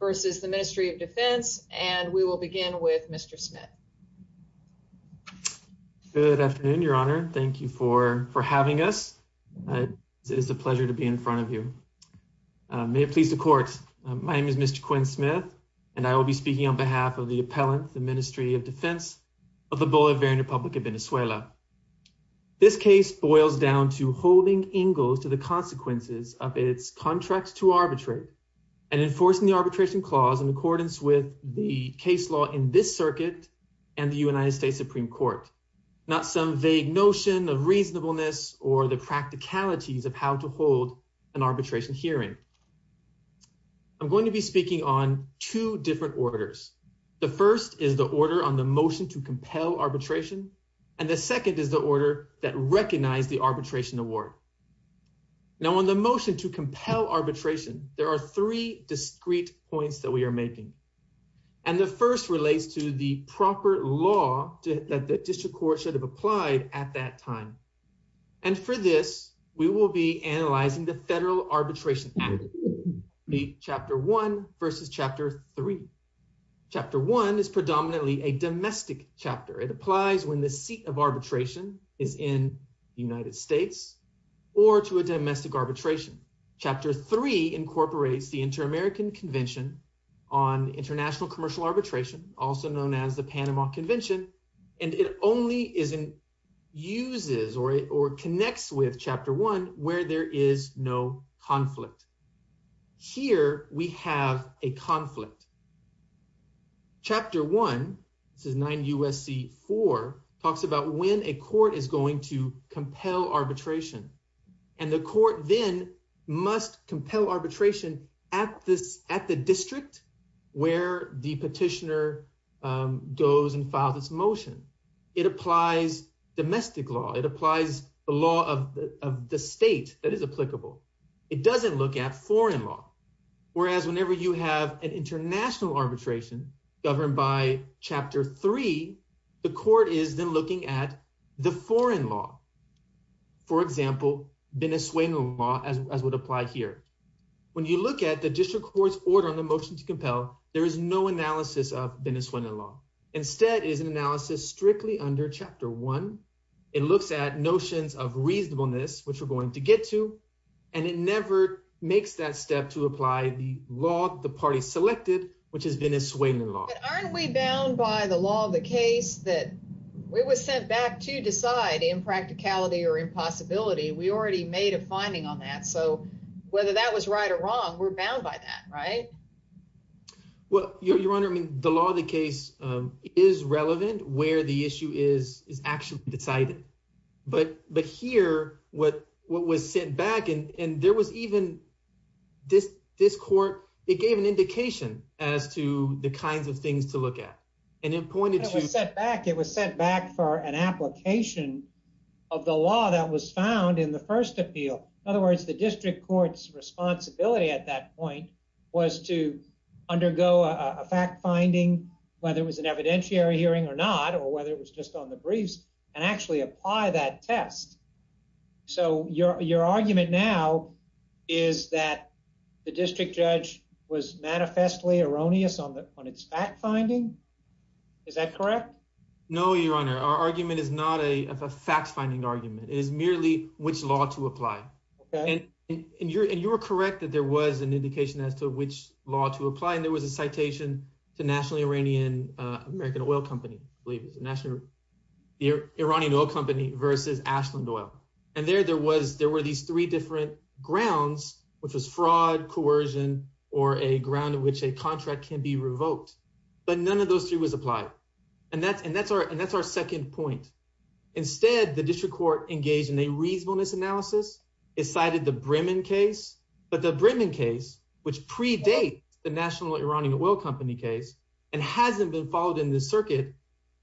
versus the Ministry of Defense. And we will begin with Mr. Smith. Good afternoon, Your Honor. Thank you for for having us. It is a pleasure to be in front of you. May it please the court. My name is Mr. Quinn Smith, and I will be speaking on behalf of the appellant, the Ministry of Defense of the Bolivarian Republic of Venezuela. This case boils down to holding Ingalls to the consequences of its contracts to arbitrate and enforcing the arbitration clause in accordance with the case law in this circuit and the United States Supreme Court. Not some vague notion of reasonableness or the practicalities of how to hold an arbitration hearing. I'm going to be speaking on two different orders. The first is the order on the motion to compel arbitration, and the second is the order that recognize the arbitration award. Now, on the motion to compel arbitration, there are three discrete points that we are making. And the first relates to the proper law that the district court should have applied at that time. And for this, we will be analyzing the Federal Arbitration Act, Chapter 1 versus Chapter 3. Chapter 1 is predominantly a domestic chapter. It applies when the seat of arbitration is in the United States or to a domestic arbitration. Chapter 3 incorporates the Inter-American Convention on International Commercial Arbitration, also known as the Panama Convention, and it only uses or connects with Chapter 1 where there is no conflict. Here we have a conflict. Chapter 1, this is 9 U.S.C. 4, talks about when a court is going to compel arbitration, and the court then must compel arbitration at the district where the petitioner goes and files its motion. It applies domestic law. It applies the law of the state that is applicable. It doesn't look at foreign law, whereas whenever you have an international arbitration governed by Chapter 3, the court is then looking at the foreign law, for example, Venezuelan law, as would apply here. When you look at the district court's order on the motion to compel, there is no analysis of Venezuelan law. Instead, it is an analysis strictly under Chapter 1. It looks at notions of reasonableness, which we're going to get to, and it never makes that step to apply the law the party selected, which is Venezuelan law. But aren't we bound by the law of the case that we were sent back to decide impracticality or impossibility? We already made a finding on that, so whether that was right or wrong, we're bound by that, right? Well, Your Honor, the law of the case is relevant where the issue is actually decided. But here, what was sent back, and there was even, this court, it gave an indication as to the kinds of things to look at. And it pointed to- It was sent back for an application of the law that was found in the first appeal. In other words, it was sent back to the district court to undergo a fact-finding, whether it was an evidentiary hearing or not, or whether it was just on the briefs, and actually apply that test. So your argument now is that the district judge was manifestly erroneous on its fact-finding? Is that correct? No, Your Honor. Our argument is not a fact-finding argument. It is merely which law to apply. Okay. And you were correct that there was an indication as to which law to apply, and there was a citation to the National Iranian American Oil Company, I believe it was, the National Iranian Oil Company versus Ashland Oil. And there, there were these three different grounds, which was fraud, coercion, or a ground on which a contract can be revoked. But none of those three was applied. And that's our second point. Instead, the district court engaged in a reasonableness analysis. It cited the Bremen case. But the Bremen case, which predates the National Iranian Oil Company case, and hasn't been followed in this circuit,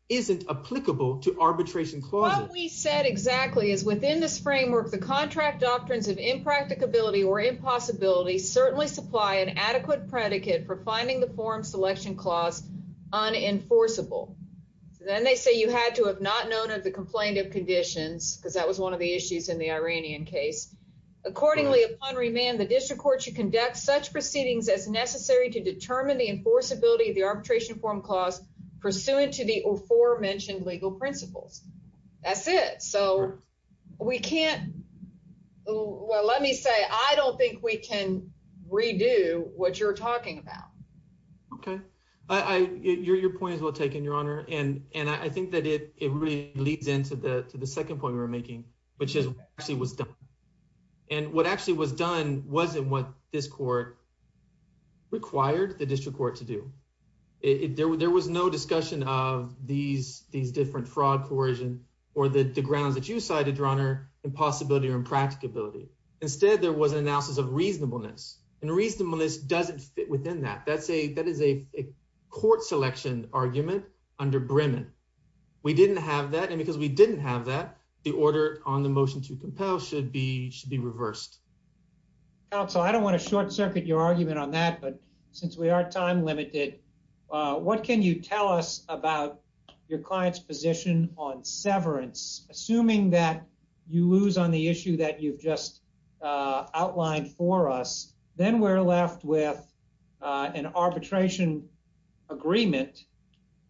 isn't applicable to arbitration clauses. What we said exactly is within this framework, the contract doctrines of impracticability or impossibility certainly supply an adequate predicate for finding the form selection clause unenforceable. Then they say you had to have not known of the complaint of conditions, because that was one of the issues in the Iranian case. Accordingly, upon remand, the district court should conduct such proceedings as necessary to determine the enforceability of the arbitration form clause pursuant to the aforementioned legal principles. That's it. So we can't, well, let me say, I don't think we can redo what you're talking about. Okay. I, your, your point is well taken, Your Honor. And, and I think that it really leads into the, to the second point we were making, which is actually was done. And what actually was done wasn't what this court required the district court to do. There was no discussion of these, these different fraud, coercion, or the grounds that you cited, Your Honor, impossibility or impracticability. Instead, there was an analysis of reasonableness. And reasonableness doesn't fit within that. That's a, that is a court selection argument under Bremen. We didn't have that. And because we didn't have that, the order on the motion to compel should be, should be reversed. Counsel, I don't want to short circuit your argument on that, but since we are time limited, what can you tell us about your client's position on severance? Assuming that you lose on the issue that you've just outlined for us, then we're left with an arbitration agreement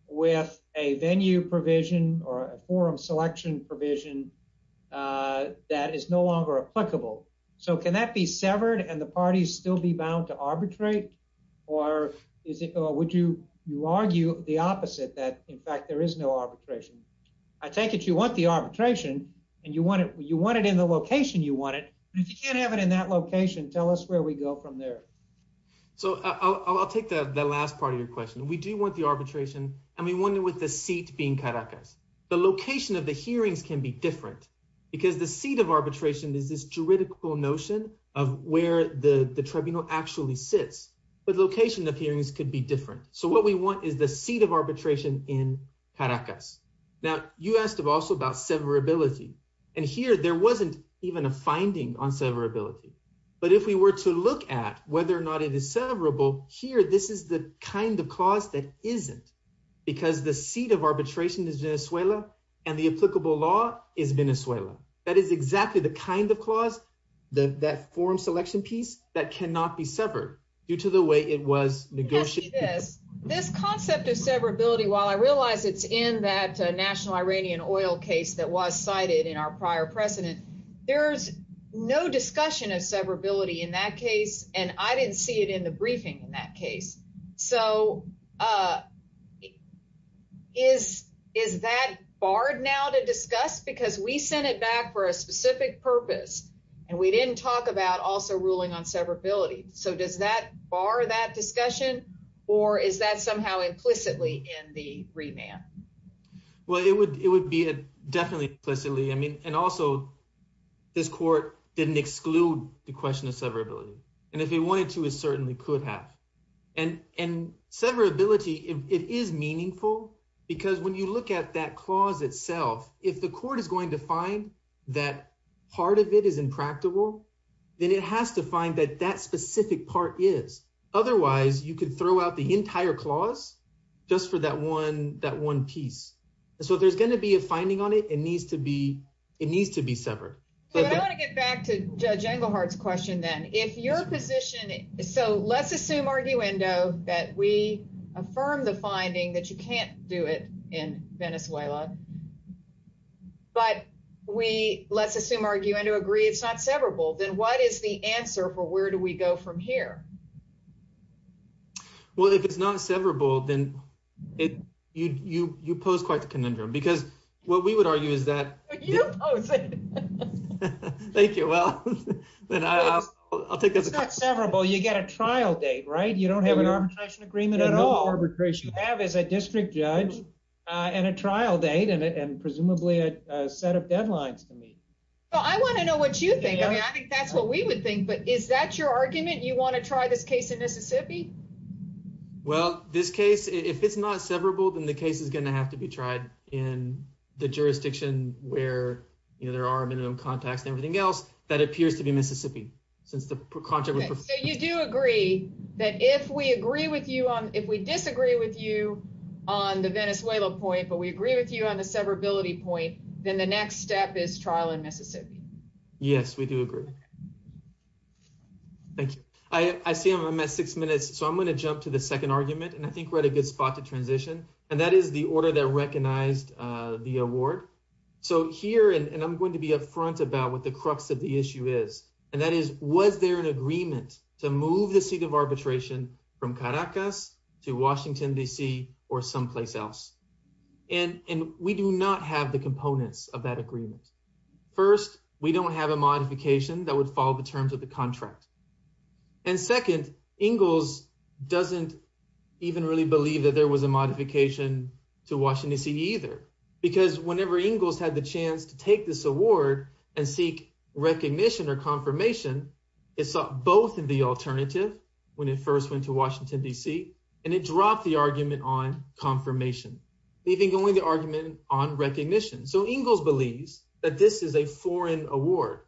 with a venue provision or a forum selection provision that is no longer applicable. So can that be severed and the parties still be bound to arbitrate? Or is it, or would you, you argue the opposite that in fact, there is no arbitration. I take it you want the arbitration and you want it, you want it in the location you want it, but if you can't have it in that location, tell us where we go from there. So I'll, I'll take the last part of your question. We do want the arbitration. And we with the seat being Caracas, the location of the hearings can be different because the seat of arbitration is this juridical notion of where the tribunal actually sits, but location of hearings could be different. So what we want is the seat of arbitration in Caracas. Now you asked also about severability and here there wasn't even a finding on severability, but if we were to look at whether or not it is severable here, this is the kind of clause that isn't because the seat of arbitration is Venezuela and the applicable law is Venezuela. That is exactly the kind of clause that, that forum selection piece that cannot be severed due to the way it was negotiated. This concept of severability, while I realize it's in that national Iranian oil case that was cited in our prior precedent, there's no discussion of severability in that case. And I didn't see it in the briefing in that case. So is, is that barred now to discuss because we sent it back for a specific purpose and we didn't talk about also ruling on severability. So does that bar that discussion or is that somehow implicitly in the remand? Well, it would, it would be definitely implicitly. I mean, and also this court didn't exclude the question of severability. And if it wanted to, it certainly could have. And, and severability, it is meaningful because when you look at that clause itself, if the court is going to find that part of it is impractical, then it has to find that that specific part is, otherwise you could throw out the entire clause just for that one, that one piece. So there's going to be a finding on it. It needs to be, it needs to be severed. I want to get back to Judge Engelhardt's question then. If your position, so let's assume arguendo that we affirm the finding that you can't do it in Venezuela, but we, let's assume arguendo agree it's not severable. Then what is the answer for where do we go from here? Well, if it's not severable, then it, you, you, you pose quite the conundrum because what we would argue is that. You pose it. Thank you. Well, then I'll take it. It's not severable. You get a trial date, right? You don't have an arbitration agreement at all. You have as a district judge and a trial date and presumably a set of deadlines to meet. Well, I want to know what you think. I mean, I think that's what we would think, but is that your argument? You want to try this case in Mississippi? Well, this case, if it's not severable, then the case is going to have to be tried in the jurisdiction where, you know, there are minimum contacts and everything else that appears to be Mississippi since the contract. So you do agree that if we agree with you on, if we disagree with you on the Venezuela point, but we agree with you on the severability point, then the next step is trial in Mississippi. Yes, we do agree. Thank you. I, I see I'm at six minutes, so I'm going to jump to the second argument and I think we're at a good spot to transition. And that is the order that recognized the award. So here, and I'm going to be upfront about what the crux of the issue is, and that is, was there an agreement to move the seat of arbitration from Caracas to Washington DC or someplace else? And, and we do not have the components of that agreement. First, we don't have a modification that would follow the terms of the contract. And second Ingalls doesn't even really believe that there was a modification to Washington DC either, because whenever Ingalls had the chance to take this award and seek recognition or confirmation, it's both in the alternative when it first went to Washington DC, and it dropped the argument on confirmation, leaving only the argument on recognition. So Ingalls believes that this is a foreign award,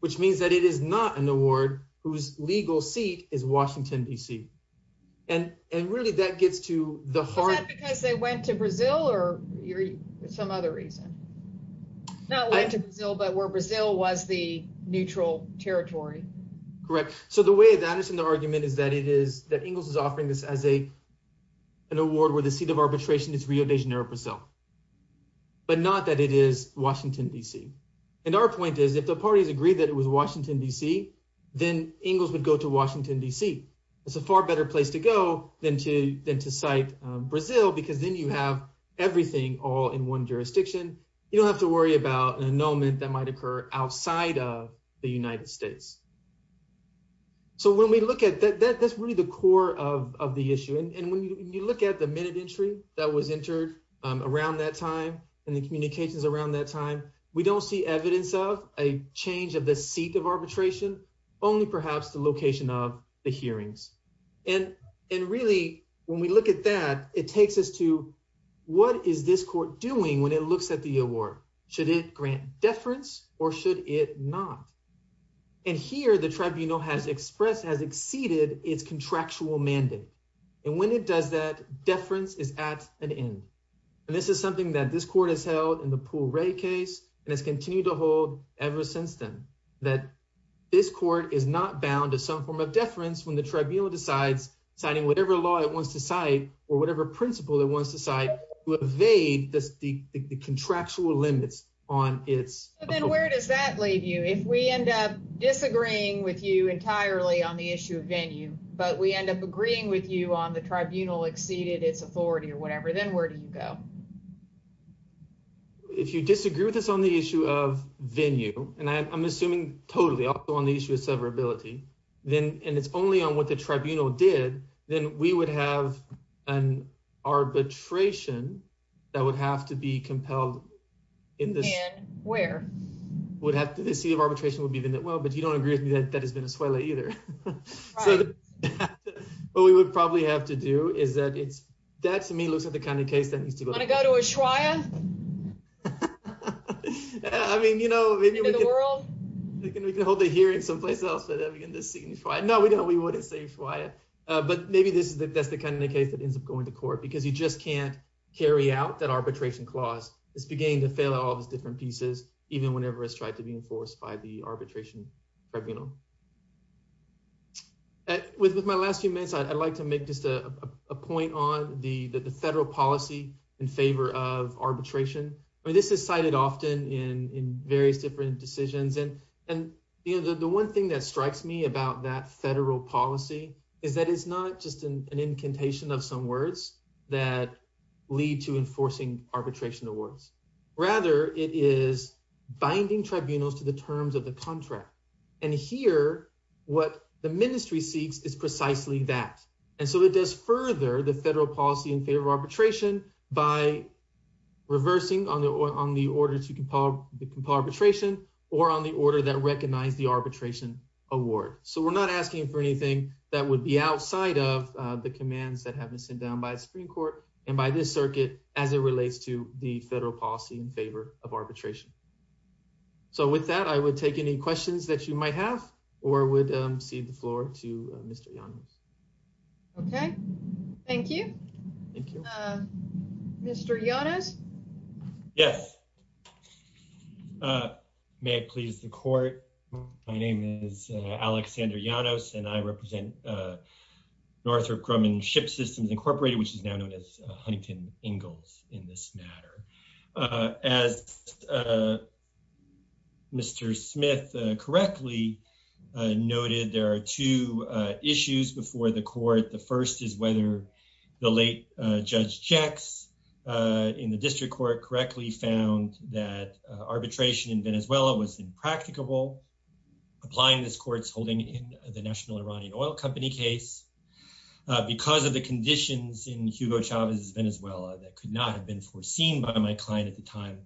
which means that it is not an award whose legal seat is Washington DC. And, and really that gets to the heart because they went to Brazil or some other reason, not went to Brazil, but where Brazil was the neutral territory. Correct. So the way that I understand the argument is that it is that Ingalls is offering this as a, an award where the seat of arbitration is Rio de Janeiro, Brazil, but not that it is Washington DC. And our point is, if the parties agree that it was Washington DC, then Ingalls would go to Washington DC. It's a far better place to go than to, than to cite Brazil, because then you have everything all in one jurisdiction. You don't have to worry about an annulment that might occur outside of the United States. So when we look at that, that that's really the core of, of the issue. And when you look at the minute entry that was entered around that time and the communications around that time, we don't see evidence of a change of the seat of arbitration, only perhaps the location of the hearings. And, and really when we look at that, it takes us to what is this court doing? When it looks at the award, should it grant deference or should it not? And here the tribunal has expressed, has exceeded its contractual mandate. And when it does that deference is at an end. And this is something that this court has held in the pool rate case. And it's continued to hold ever since then that this court is not bound to some form of deference. When the tribunal decides signing, whatever law it wants to cite or whatever principle it wants to cite to evade the contractual limits on its. Then where does that leave you? If we end up disagreeing with you entirely on the issue of venue, but we end up agreeing with you on the tribunal exceeded its authority or whatever, then where do you go? If you disagree with us on the issue of venue, and I'm assuming totally also on the issue of severability, then, and it's only on what the compelled in this. And where? Would have to, the seat of arbitration would be, well, but you don't agree with me that that is Venezuela either. So what we would probably have to do is that it's, that to me looks at the kind of case that needs to go. Want to go to Ushuaia? I mean, you know, maybe we can hold the hearing someplace else, but then we can just sign Ushuaia. No, we don't, we wouldn't say Ushuaia. But maybe this is the, that's the kind of case that ends up going to court because you just can't carry out that arbitration clause. It's beginning to fail at all those different pieces, even whenever it's tried to be enforced by the arbitration tribunal. With my last few minutes, I'd like to make just a point on the federal policy in favor of arbitration. I mean, this is cited often in various different decisions. And, and the one thing that strikes me about that federal policy is that it's not just an incantation of some words that lead to enforcing arbitration awards. Rather, it is binding tribunals to the terms of the contract. And here, what the ministry seeks is precisely that. And so it does further the federal policy in favor of arbitration by reversing on the, on the order to compile the arbitration or on the order that recognize the arbitration award. So we're not asking for anything that would be outside of the commands that have been sent down by the Supreme Court and by this circuit, as it relates to the federal policy in favor of arbitration. So with that, I would take any questions that you might have, or I would cede the floor to Mr. Yanez. Okay. Thank you. Thank you. Mr. Yanez. Yes. May I please the court? My name is Alexander Yanez and I represent Northrop Grumman Ship Systems Incorporated, which is now known as Huntington Ingalls in this matter. As Mr. Smith correctly noted, there are two issues before the court. The first is whether the late Judge Jecks in the district court correctly found that arbitration in Venezuela was impracticable applying this court's holding in the National Iranian Oil Company case. Because of the conditions in Hugo Chavez's Venezuela that could not have been foreseen by my client at the time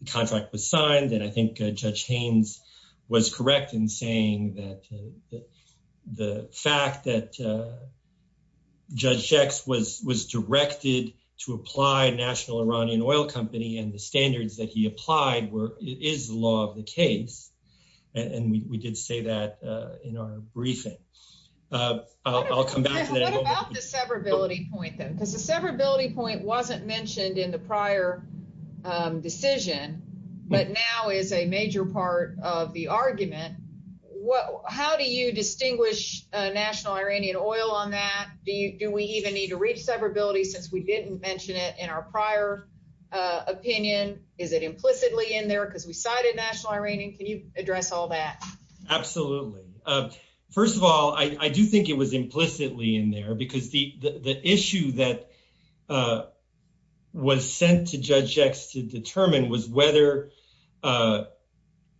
the contract was signed. And I think Judge Haynes was correct in saying that the fact that Judge Jecks was directed to apply National Iranian Oil Company and the standards that he applied were, is the law of the case. And we did say that in our briefing. I'll come back to that. What about the severability point then? Because the severability point wasn't mentioned in the prior decision, but now is a major part of the argument. How do you distinguish National Iranian Oil on that? Do we even need to reach severability since we didn't mention it in our prior opinion? Is it implicitly in there because we cited National Iranian? Can you address all that? Absolutely. First of all, I do think it was implicitly in there because the sent to Judge Jecks to determine was whether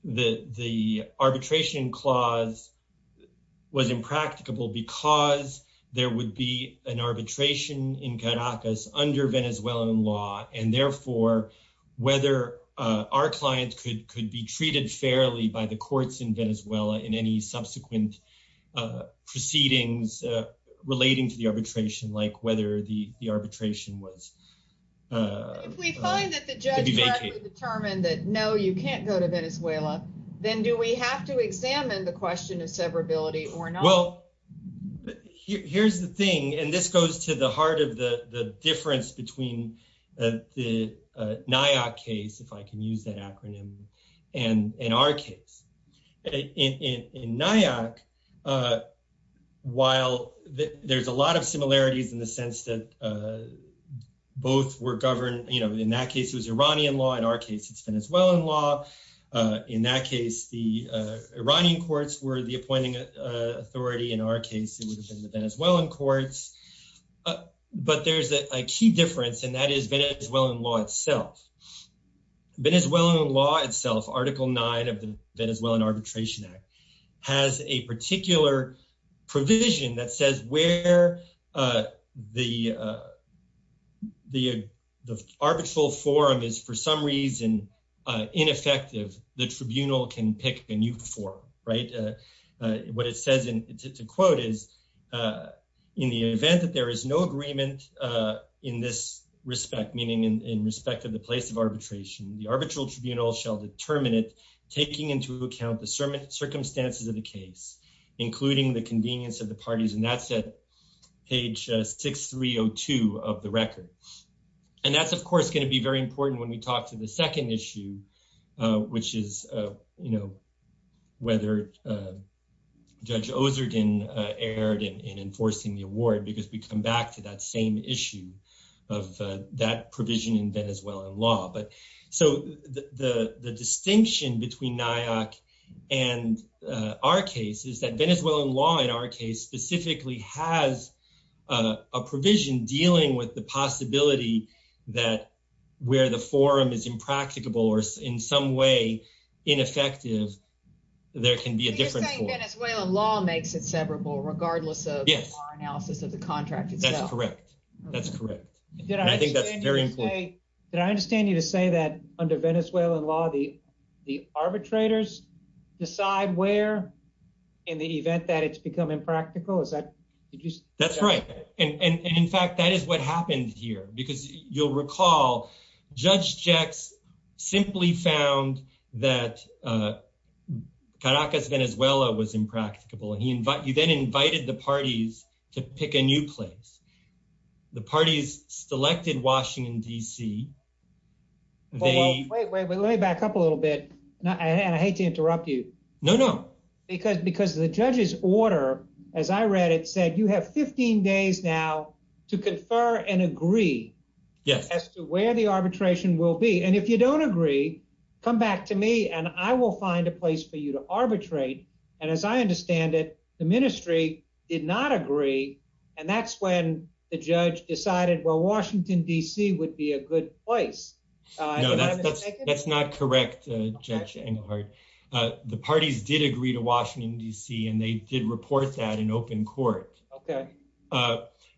the arbitration clause was impracticable because there would be an arbitration in Caracas under Venezuelan law. And therefore, whether our client could be treated fairly by the courts in Venezuela in any subsequent proceedings relating to the If we find that the judge determined that no, you can't go to Venezuela, then do we have to examine the question of severability or not? Well, here's the thing. And this goes to the heart of the difference between the NIAC case, if I can use that acronym, and our case. In NIAC, while there's a lot of similarities in the sense that both were governed, you know, in that case, it was Iranian law. In our case, it's Venezuelan law. In that case, the Iranian courts were the appointing authority. In our case, it would have been the Venezuelan courts. But there's a key difference. And that is Venezuelan law itself. Venezuelan law itself, Article Nine of the Venezuelan Arbitration Act has a particular provision that says where the arbitral forum is, for some reason, ineffective, the tribunal can pick a new forum, right? What it says in the quote is, in the event that there is no agreement in this respect, meaning in respect to the place of arbitration, the arbitral tribunal shall determine it, taking into account the circumstances of the case, including the convenience of the parties. And that's at page 6302 of the record. And that's, of course, going to be very important when we talk to the second issue, which is, you know, whether Judge Ozerden erred in enforcing the award, because we come back to that same issue of that provision in Venezuelan law. So, the distinction between NIAC and our case is that Venezuelan law, in our case, specifically has a provision dealing with the possibility that where the forum is impracticable, or in some way, ineffective, there can be a different forum. You're saying Venezuelan law makes it severable, regardless of our analysis of the contract itself? That's correct. That's correct. And I think that's very important. Did I understand you to say that under Venezuelan law, the arbitrators decide where, in the event that it's become impractical? Did you say that? That's right. And in fact, that is what happened here. Because you'll recall, Judge Jecks simply found that Caracas, Venezuela was impracticable. He then invited the parties to pick a new place. The parties selected Washington, D.C. Wait, wait, let me back up a little bit. And I hate to interrupt you. No, no. Because the judge's order, as I read it, said you have 15 days now to confer and agree as to where the arbitration will be. And if you don't agree, come back to me and I will find a did not agree. And that's when the judge decided, well, Washington, D.C. would be a good place. No, that's not correct, Judge Engelhardt. The parties did agree to Washington, D.C., and they did report that in open court.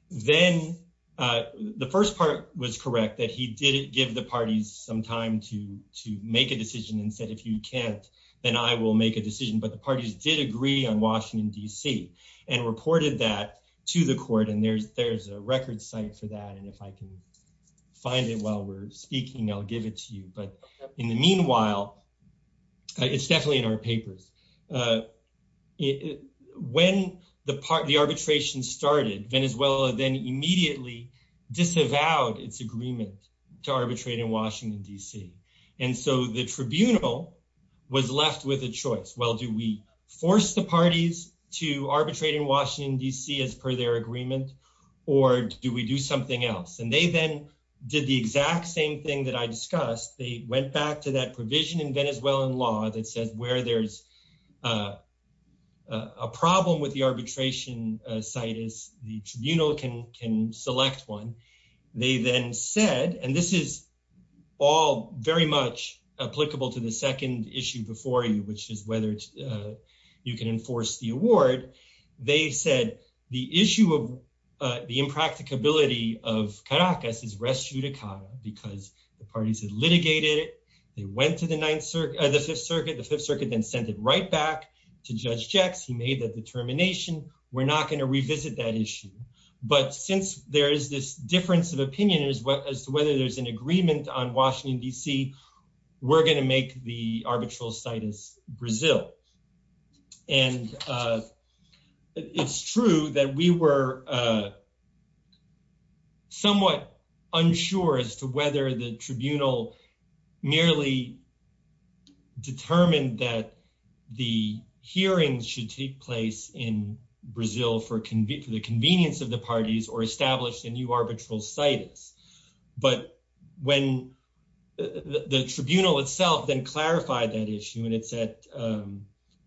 Then the first part was correct, that he did give the parties some time to make a decision and said, if you can't, then I will make a decision. But the parties did agree on Washington, D.C., and reported that to the court. And there's a record site for that. And if I can find it while we're speaking, I'll give it to you. But in the meanwhile, it's definitely in our papers. When the arbitration started, Venezuela then immediately disavowed its agreement to arbitrate in Washington, D.C. And so the tribunal was left with a choice. Well, do we force the parties to arbitrate in Washington, D.C. as per their agreement, or do we do something else? And they then did the exact same thing that I discussed. They went back to that provision in Venezuelan law that says where there's a problem with the arbitration site is the tribunal can select one. They then said, and this is all very much applicable to the second issue before you, which is whether you can enforce the award. They said the issue of the impracticability of Caracas is res judicata because the parties had litigated it. They went to the Fifth Circuit, then sent it right back to Judge Jecks. He made that determination. We're not going to revisit that issue. But since there is this difference of opinion as to whether there's an agreement on Washington, D.C., we're going to make the arbitral site as Brazil. And it's true that we were somewhat unsure as to whether the tribunal merely determined that the hearings should take place in Brazil for the convenience of the parties or establish a new arbitral situs. But when the tribunal itself then clarified that issue, and it's at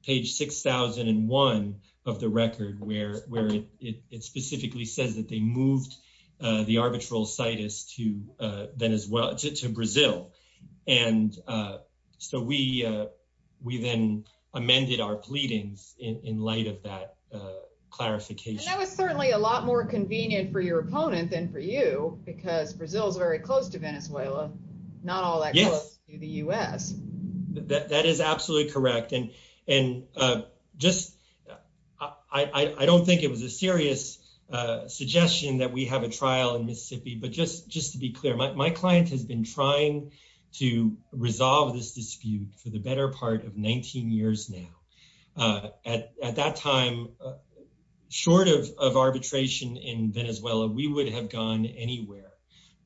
page 6001 of the record where it specifically says that they moved the arbitral situs to Brazil. And so we then amended our pleadings in light of that clarification. And that was certainly a lot more convenient for your opponent than for you, because Brazil is very close to Venezuela, not all that close to the U.S. That is absolutely correct. And I don't think it was a serious suggestion that we have a trial in Mississippi. But just to be clear, my client has been trying to resolve this dispute for the short of arbitration in Venezuela, we would have gone anywhere.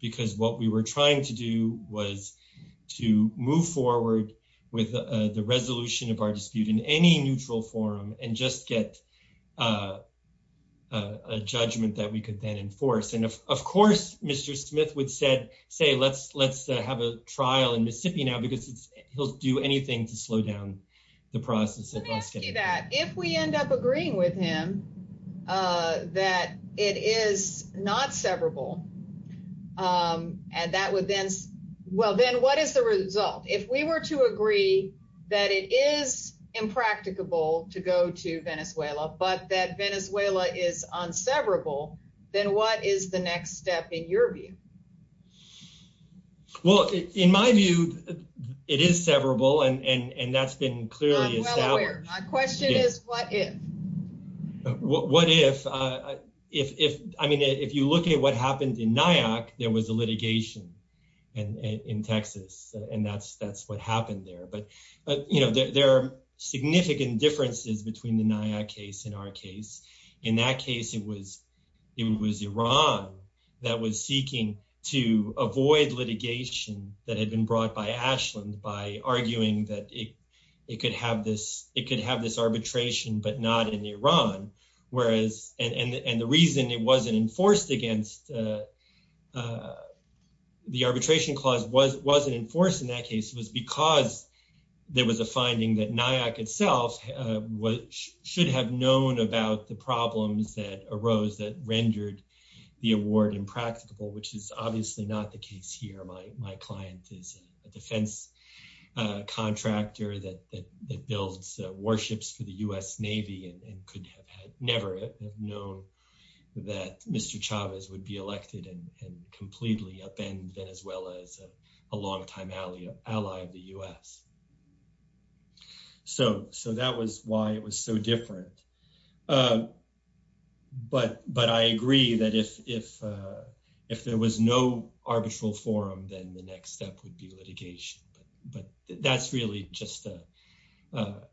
Because what we were trying to do was to move forward with the resolution of our dispute in any neutral forum and just get a judgment that we could then enforce. And of course, Mr. Smith would say, let's have a trial in Mississippi now, because he'll do anything to slow down the process. Let me ask you that. If we end up agreeing with him that it is not severable, and that would then – well, then what is the result? If we were to agree that it is impracticable to go to Venezuela, but that Venezuela is unseverable, then what is the next step in your view? Well, in my view, it is severable, and that's been clearly established. My question is, what if? What if? I mean, if you look at what happened in Nyack, there was a litigation in Texas, and that's what happened there. But there are significant differences between the Nyack case and our case. In that case, it was Iran that was seeking to avoid litigation that had been brought by Ashland by arguing that it could have this arbitration, but not in Iran. And the reason it wasn't enforced against – the arbitration clause wasn't enforced in that case was because there was a finding that Nyack itself should have known about the problems that arose that rendered the award impracticable, which is obviously not the case here. My client is a defense contractor that builds warships for the U.S. Navy and could have never have known that Mr. Chavez would be elected and completely upend Venezuela as a longtime ally of the U.S. So that was why it was so different. But I agree that if there was no arbitral forum, then the next step would be litigation. But that's really just an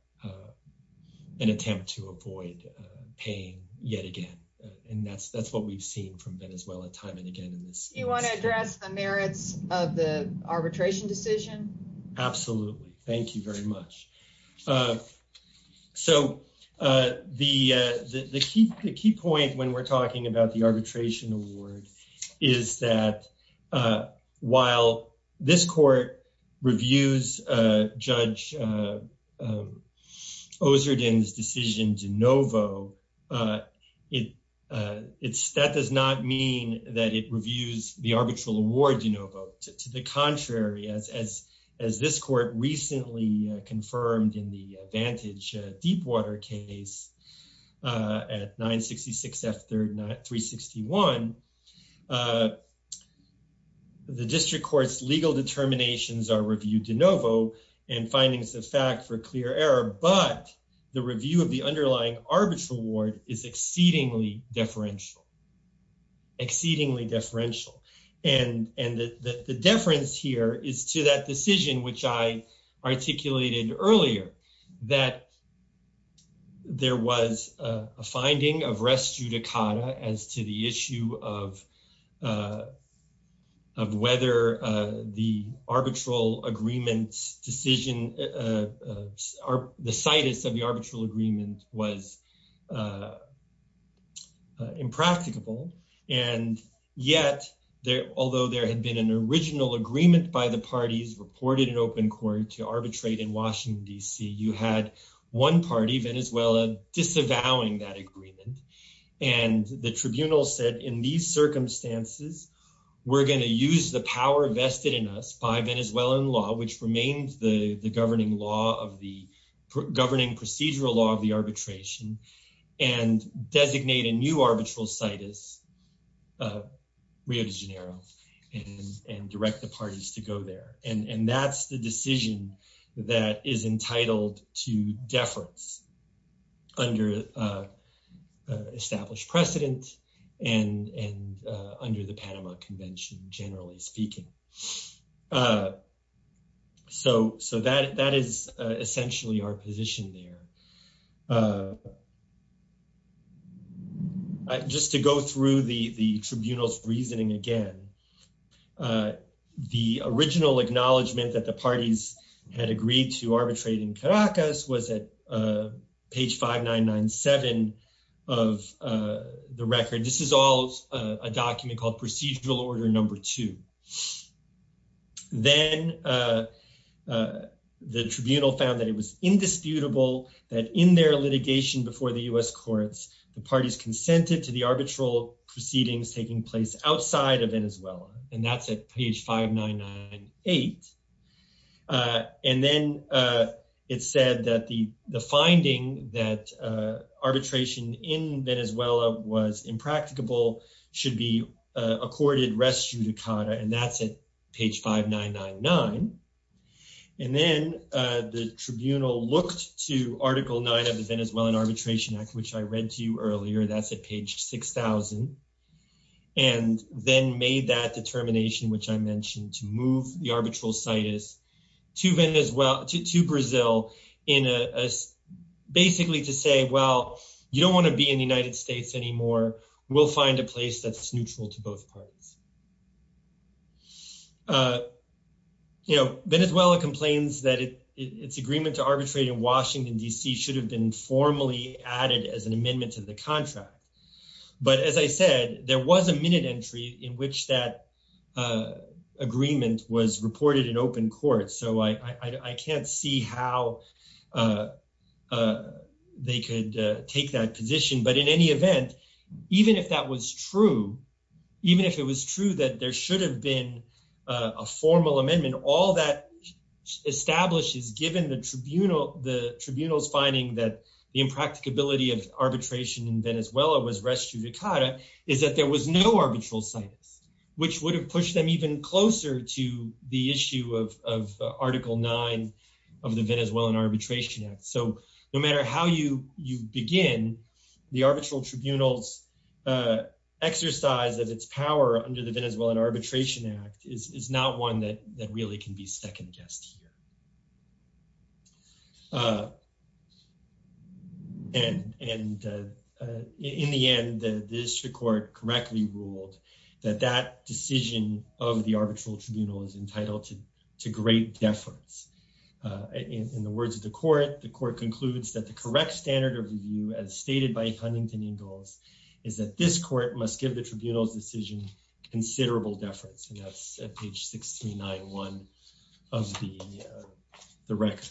attempt to avoid pain yet again, and that's what we've seen from Venezuela time and again in this case. Do you want to address the merits of the arbitration decision? Absolutely. Thank you very much. So the key point when we're talking about the arbitration award is that while this court reviews Judge Ozerden's decision de novo, that does not mean that it as this court recently confirmed in the Vantage Deepwater case at 966 F 361, the district court's legal determinations are reviewed de novo and findings of fact for clear error, but the review of the underlying arbitral award is exceedingly deferential, exceedingly deferential. And the deference here is to that decision which I articulated earlier, that there was a finding of res judicata as to the issue of whether the arbitral agreement's decision, the situs of the arbitral agreement was impracticable. And yet, although there had been an original agreement by the parties reported in open court to arbitrate in Washington, D.C., you had one party, Venezuela, disavowing that agreement. And the tribunal said, in these circumstances, we're going to use the power vested in us by Venezuelan law, which remains the governing law of the governing procedural law of the arbitration, and designate a new arbitral situs, Rio de Janeiro, and direct the parties to go there. And that's the decision that is entitled to deference under established precedent and under the Panama Convention, generally speaking. So that is essentially our position there. Just to go through the tribunal's reasoning again, the original acknowledgement that the is all a document called procedural order number two. Then the tribunal found that it was indisputable that in their litigation before the U.S. courts, the parties consented to the arbitral proceedings taking place outside of Venezuela. And that's at page 5998. And then it said that the finding that arbitration in Venezuela was impracticable should be accorded res judicata, and that's at page 5999. And then the tribunal looked to Article 9 of the Venezuelan Arbitration Act, which I read to you earlier, that's at page 6000, and then made that determination, which I mentioned, to move the arbitral situs to Brazil basically to say, well, you don't want to be in the United States anymore. We'll find a place that's neutral to both parties. Venezuela complains that its agreement to arbitrate in Washington, D.C. should have been added as an amendment to the contract. But as I said, there was a minute entry in which that agreement was reported in open court. So I can't see how they could take that position. But in any event, even if that was true, even if it was true that there should have been a formal amendment, all that establishes, given the tribunal's finding that the impracticability of arbitration in Venezuela was res judicata, is that there was no arbitral situs, which would have pushed them even closer to the issue of Article 9 of the Venezuelan Arbitration Act. So no matter how you begin, the arbitral tribunal's exercise of its power under the is not one that really can be second-guessed here. And in the end, the district court correctly ruled that that decision of the arbitral tribunal is entitled to great deference. In the words of the court, the court concludes that the correct standard of review, as stated by Huntington Ingalls, is that this court must give the tribunal's considerable deference. And that's at page 6391 of the record.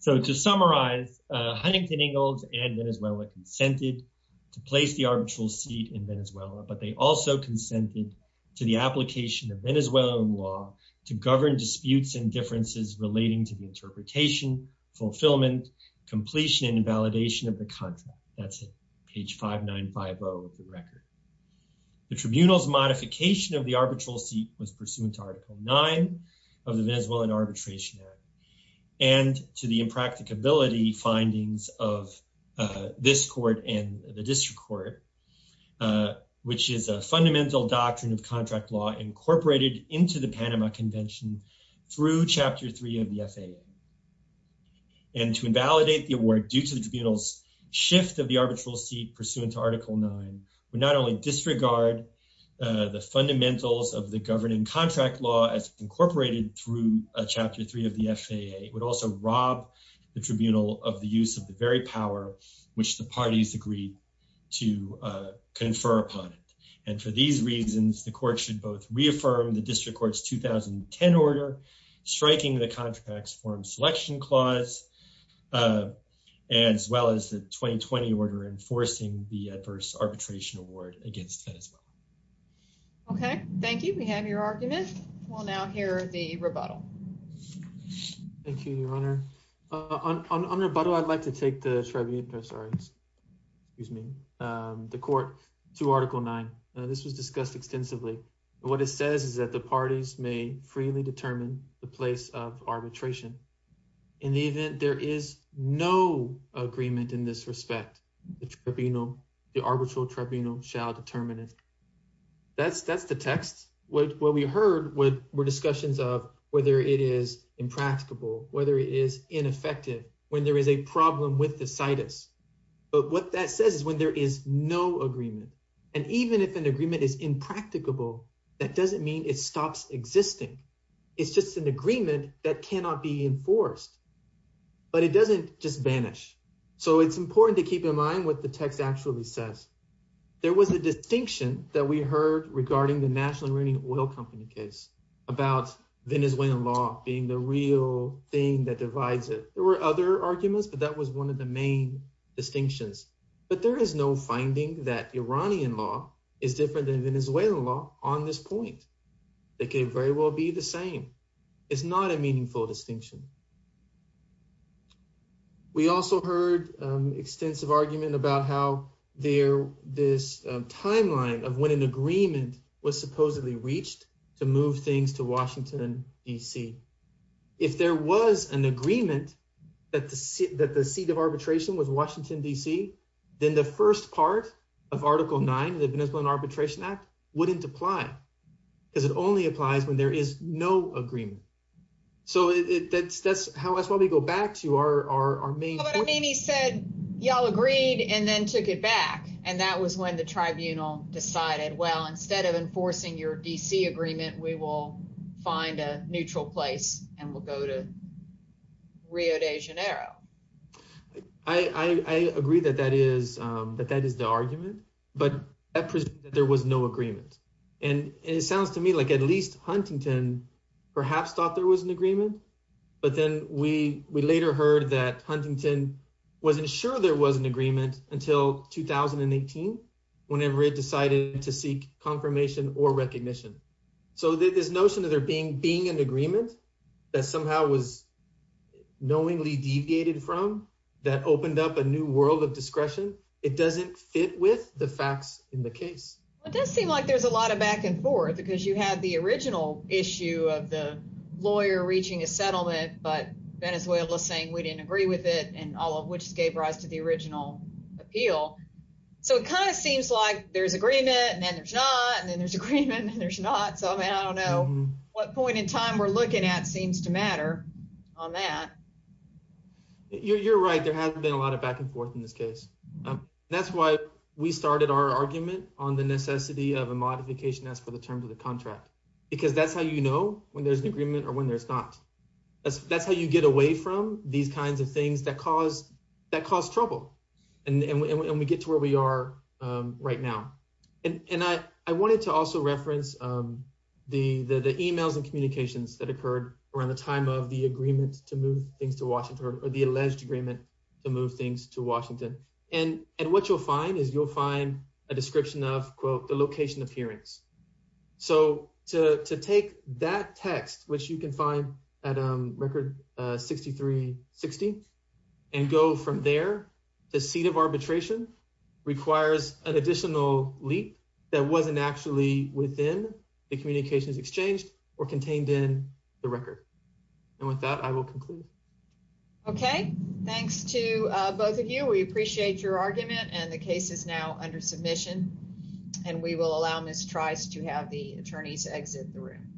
So to summarize, Huntington Ingalls and Venezuela consented to place the arbitral seat in Venezuela, but they also consented to the application of Venezuelan law to govern disputes and differences relating to the interpretation, fulfillment, completion, and validation of the content. That's at page 5950 of the record. The tribunal's modification of the arbitral seat was pursuant to Article 9 of the Venezuelan Arbitration Act and to the impracticability findings of this court and the district court, which is a fundamental doctrine of contract law incorporated into the Panama Convention through Chapter 3 of the FAA. And to invalidate the award due to the tribunal's shift of the arbitral seat pursuant to Article 9 would not only disregard the fundamentals of the governing contract law as incorporated through Chapter 3 of the FAA, it would also rob the tribunal of the use of the very power which the parties agreed to confer upon it. And for these reasons, the court should both reaffirm the district court's 2010 order, striking the contract's forum selection clause, as well as the 2020 order enforcing the adverse arbitration award against Venezuela. Okay, thank you. We have your argument. We'll now hear the rebuttal. Thank you, Your Honor. On rebuttal, I'd like to take the tribunal, sorry, excuse me, the court to Article 9. This was discussed extensively. What it says is that the parties may freely determine the place of arbitration. In the event there is no agreement in this respect, the tribunal, the arbitral tribunal shall determine it. That's the text. What we heard were discussions of whether it is impracticable, whether it is ineffective, when there is a problem with the situs. But what that says is when there is no agreement, and even if an agreement is existing, it's just an agreement that cannot be enforced. But it doesn't just vanish. So it's important to keep in mind what the text actually says. There was a distinction that we heard regarding the National Iranian Oil Company case about Venezuelan law being the real thing that divides it. There were other arguments, but that was one of the main distinctions. But there is no finding that Iranian law is different than Venezuelan law on this point. They can very well be the same. It's not a meaningful distinction. We also heard an extensive argument about how this timeline of when an agreement was supposedly reached to move things to Washington, D.C. If there was an agreement that the seat of arbitration was Washington, D.C., then the first part of Article 9 of the Venezuelan Arbitration Act wouldn't apply because it only applies when there is no agreement. So that's why we go back to our main point. But I mean he said y'all agreed and then took it back, and that was when the Tribunal decided, well, instead of enforcing your D.C. agreement, we will find a neutral place and we'll go to Janeiro. I agree that that is the argument, but there was no agreement. And it sounds to me like at least Huntington perhaps thought there was an agreement, but then we later heard that Huntington wasn't sure there was an agreement until 2018, whenever it decided to seek confirmation or from that opened up a new world of discretion. It doesn't fit with the facts in the case. It does seem like there's a lot of back and forth because you had the original issue of the lawyer reaching a settlement, but Venezuela's saying we didn't agree with it and all of which gave rise to the original appeal. So it kind of seems like there's agreement and then there's not and then there's agreement and there's not. So I mean, I don't know what point in time we're on that. You're right. There hasn't been a lot of back and forth in this case. That's why we started our argument on the necessity of a modification as for the terms of the contract, because that's how you know when there's an agreement or when there's not. That's how you get away from these kinds of things that cause trouble and we get to where we are right now. And I wanted to also reference the emails and communications that occurred around the time of the agreement to move things to Washington or the alleged agreement to move things to Washington. And what you'll find is you'll find a description of quote the location appearance. So to take that text which you can find at record 6360 and go from there, the seat of arbitration requires an additional leap that wasn't actually within the communications exchanged or contained in the record. And with that, I will conclude. Okay, thanks to both of you. We appreciate your argument and the case is now under submission and we will allow Ms. Trice to have the attorneys exit the room.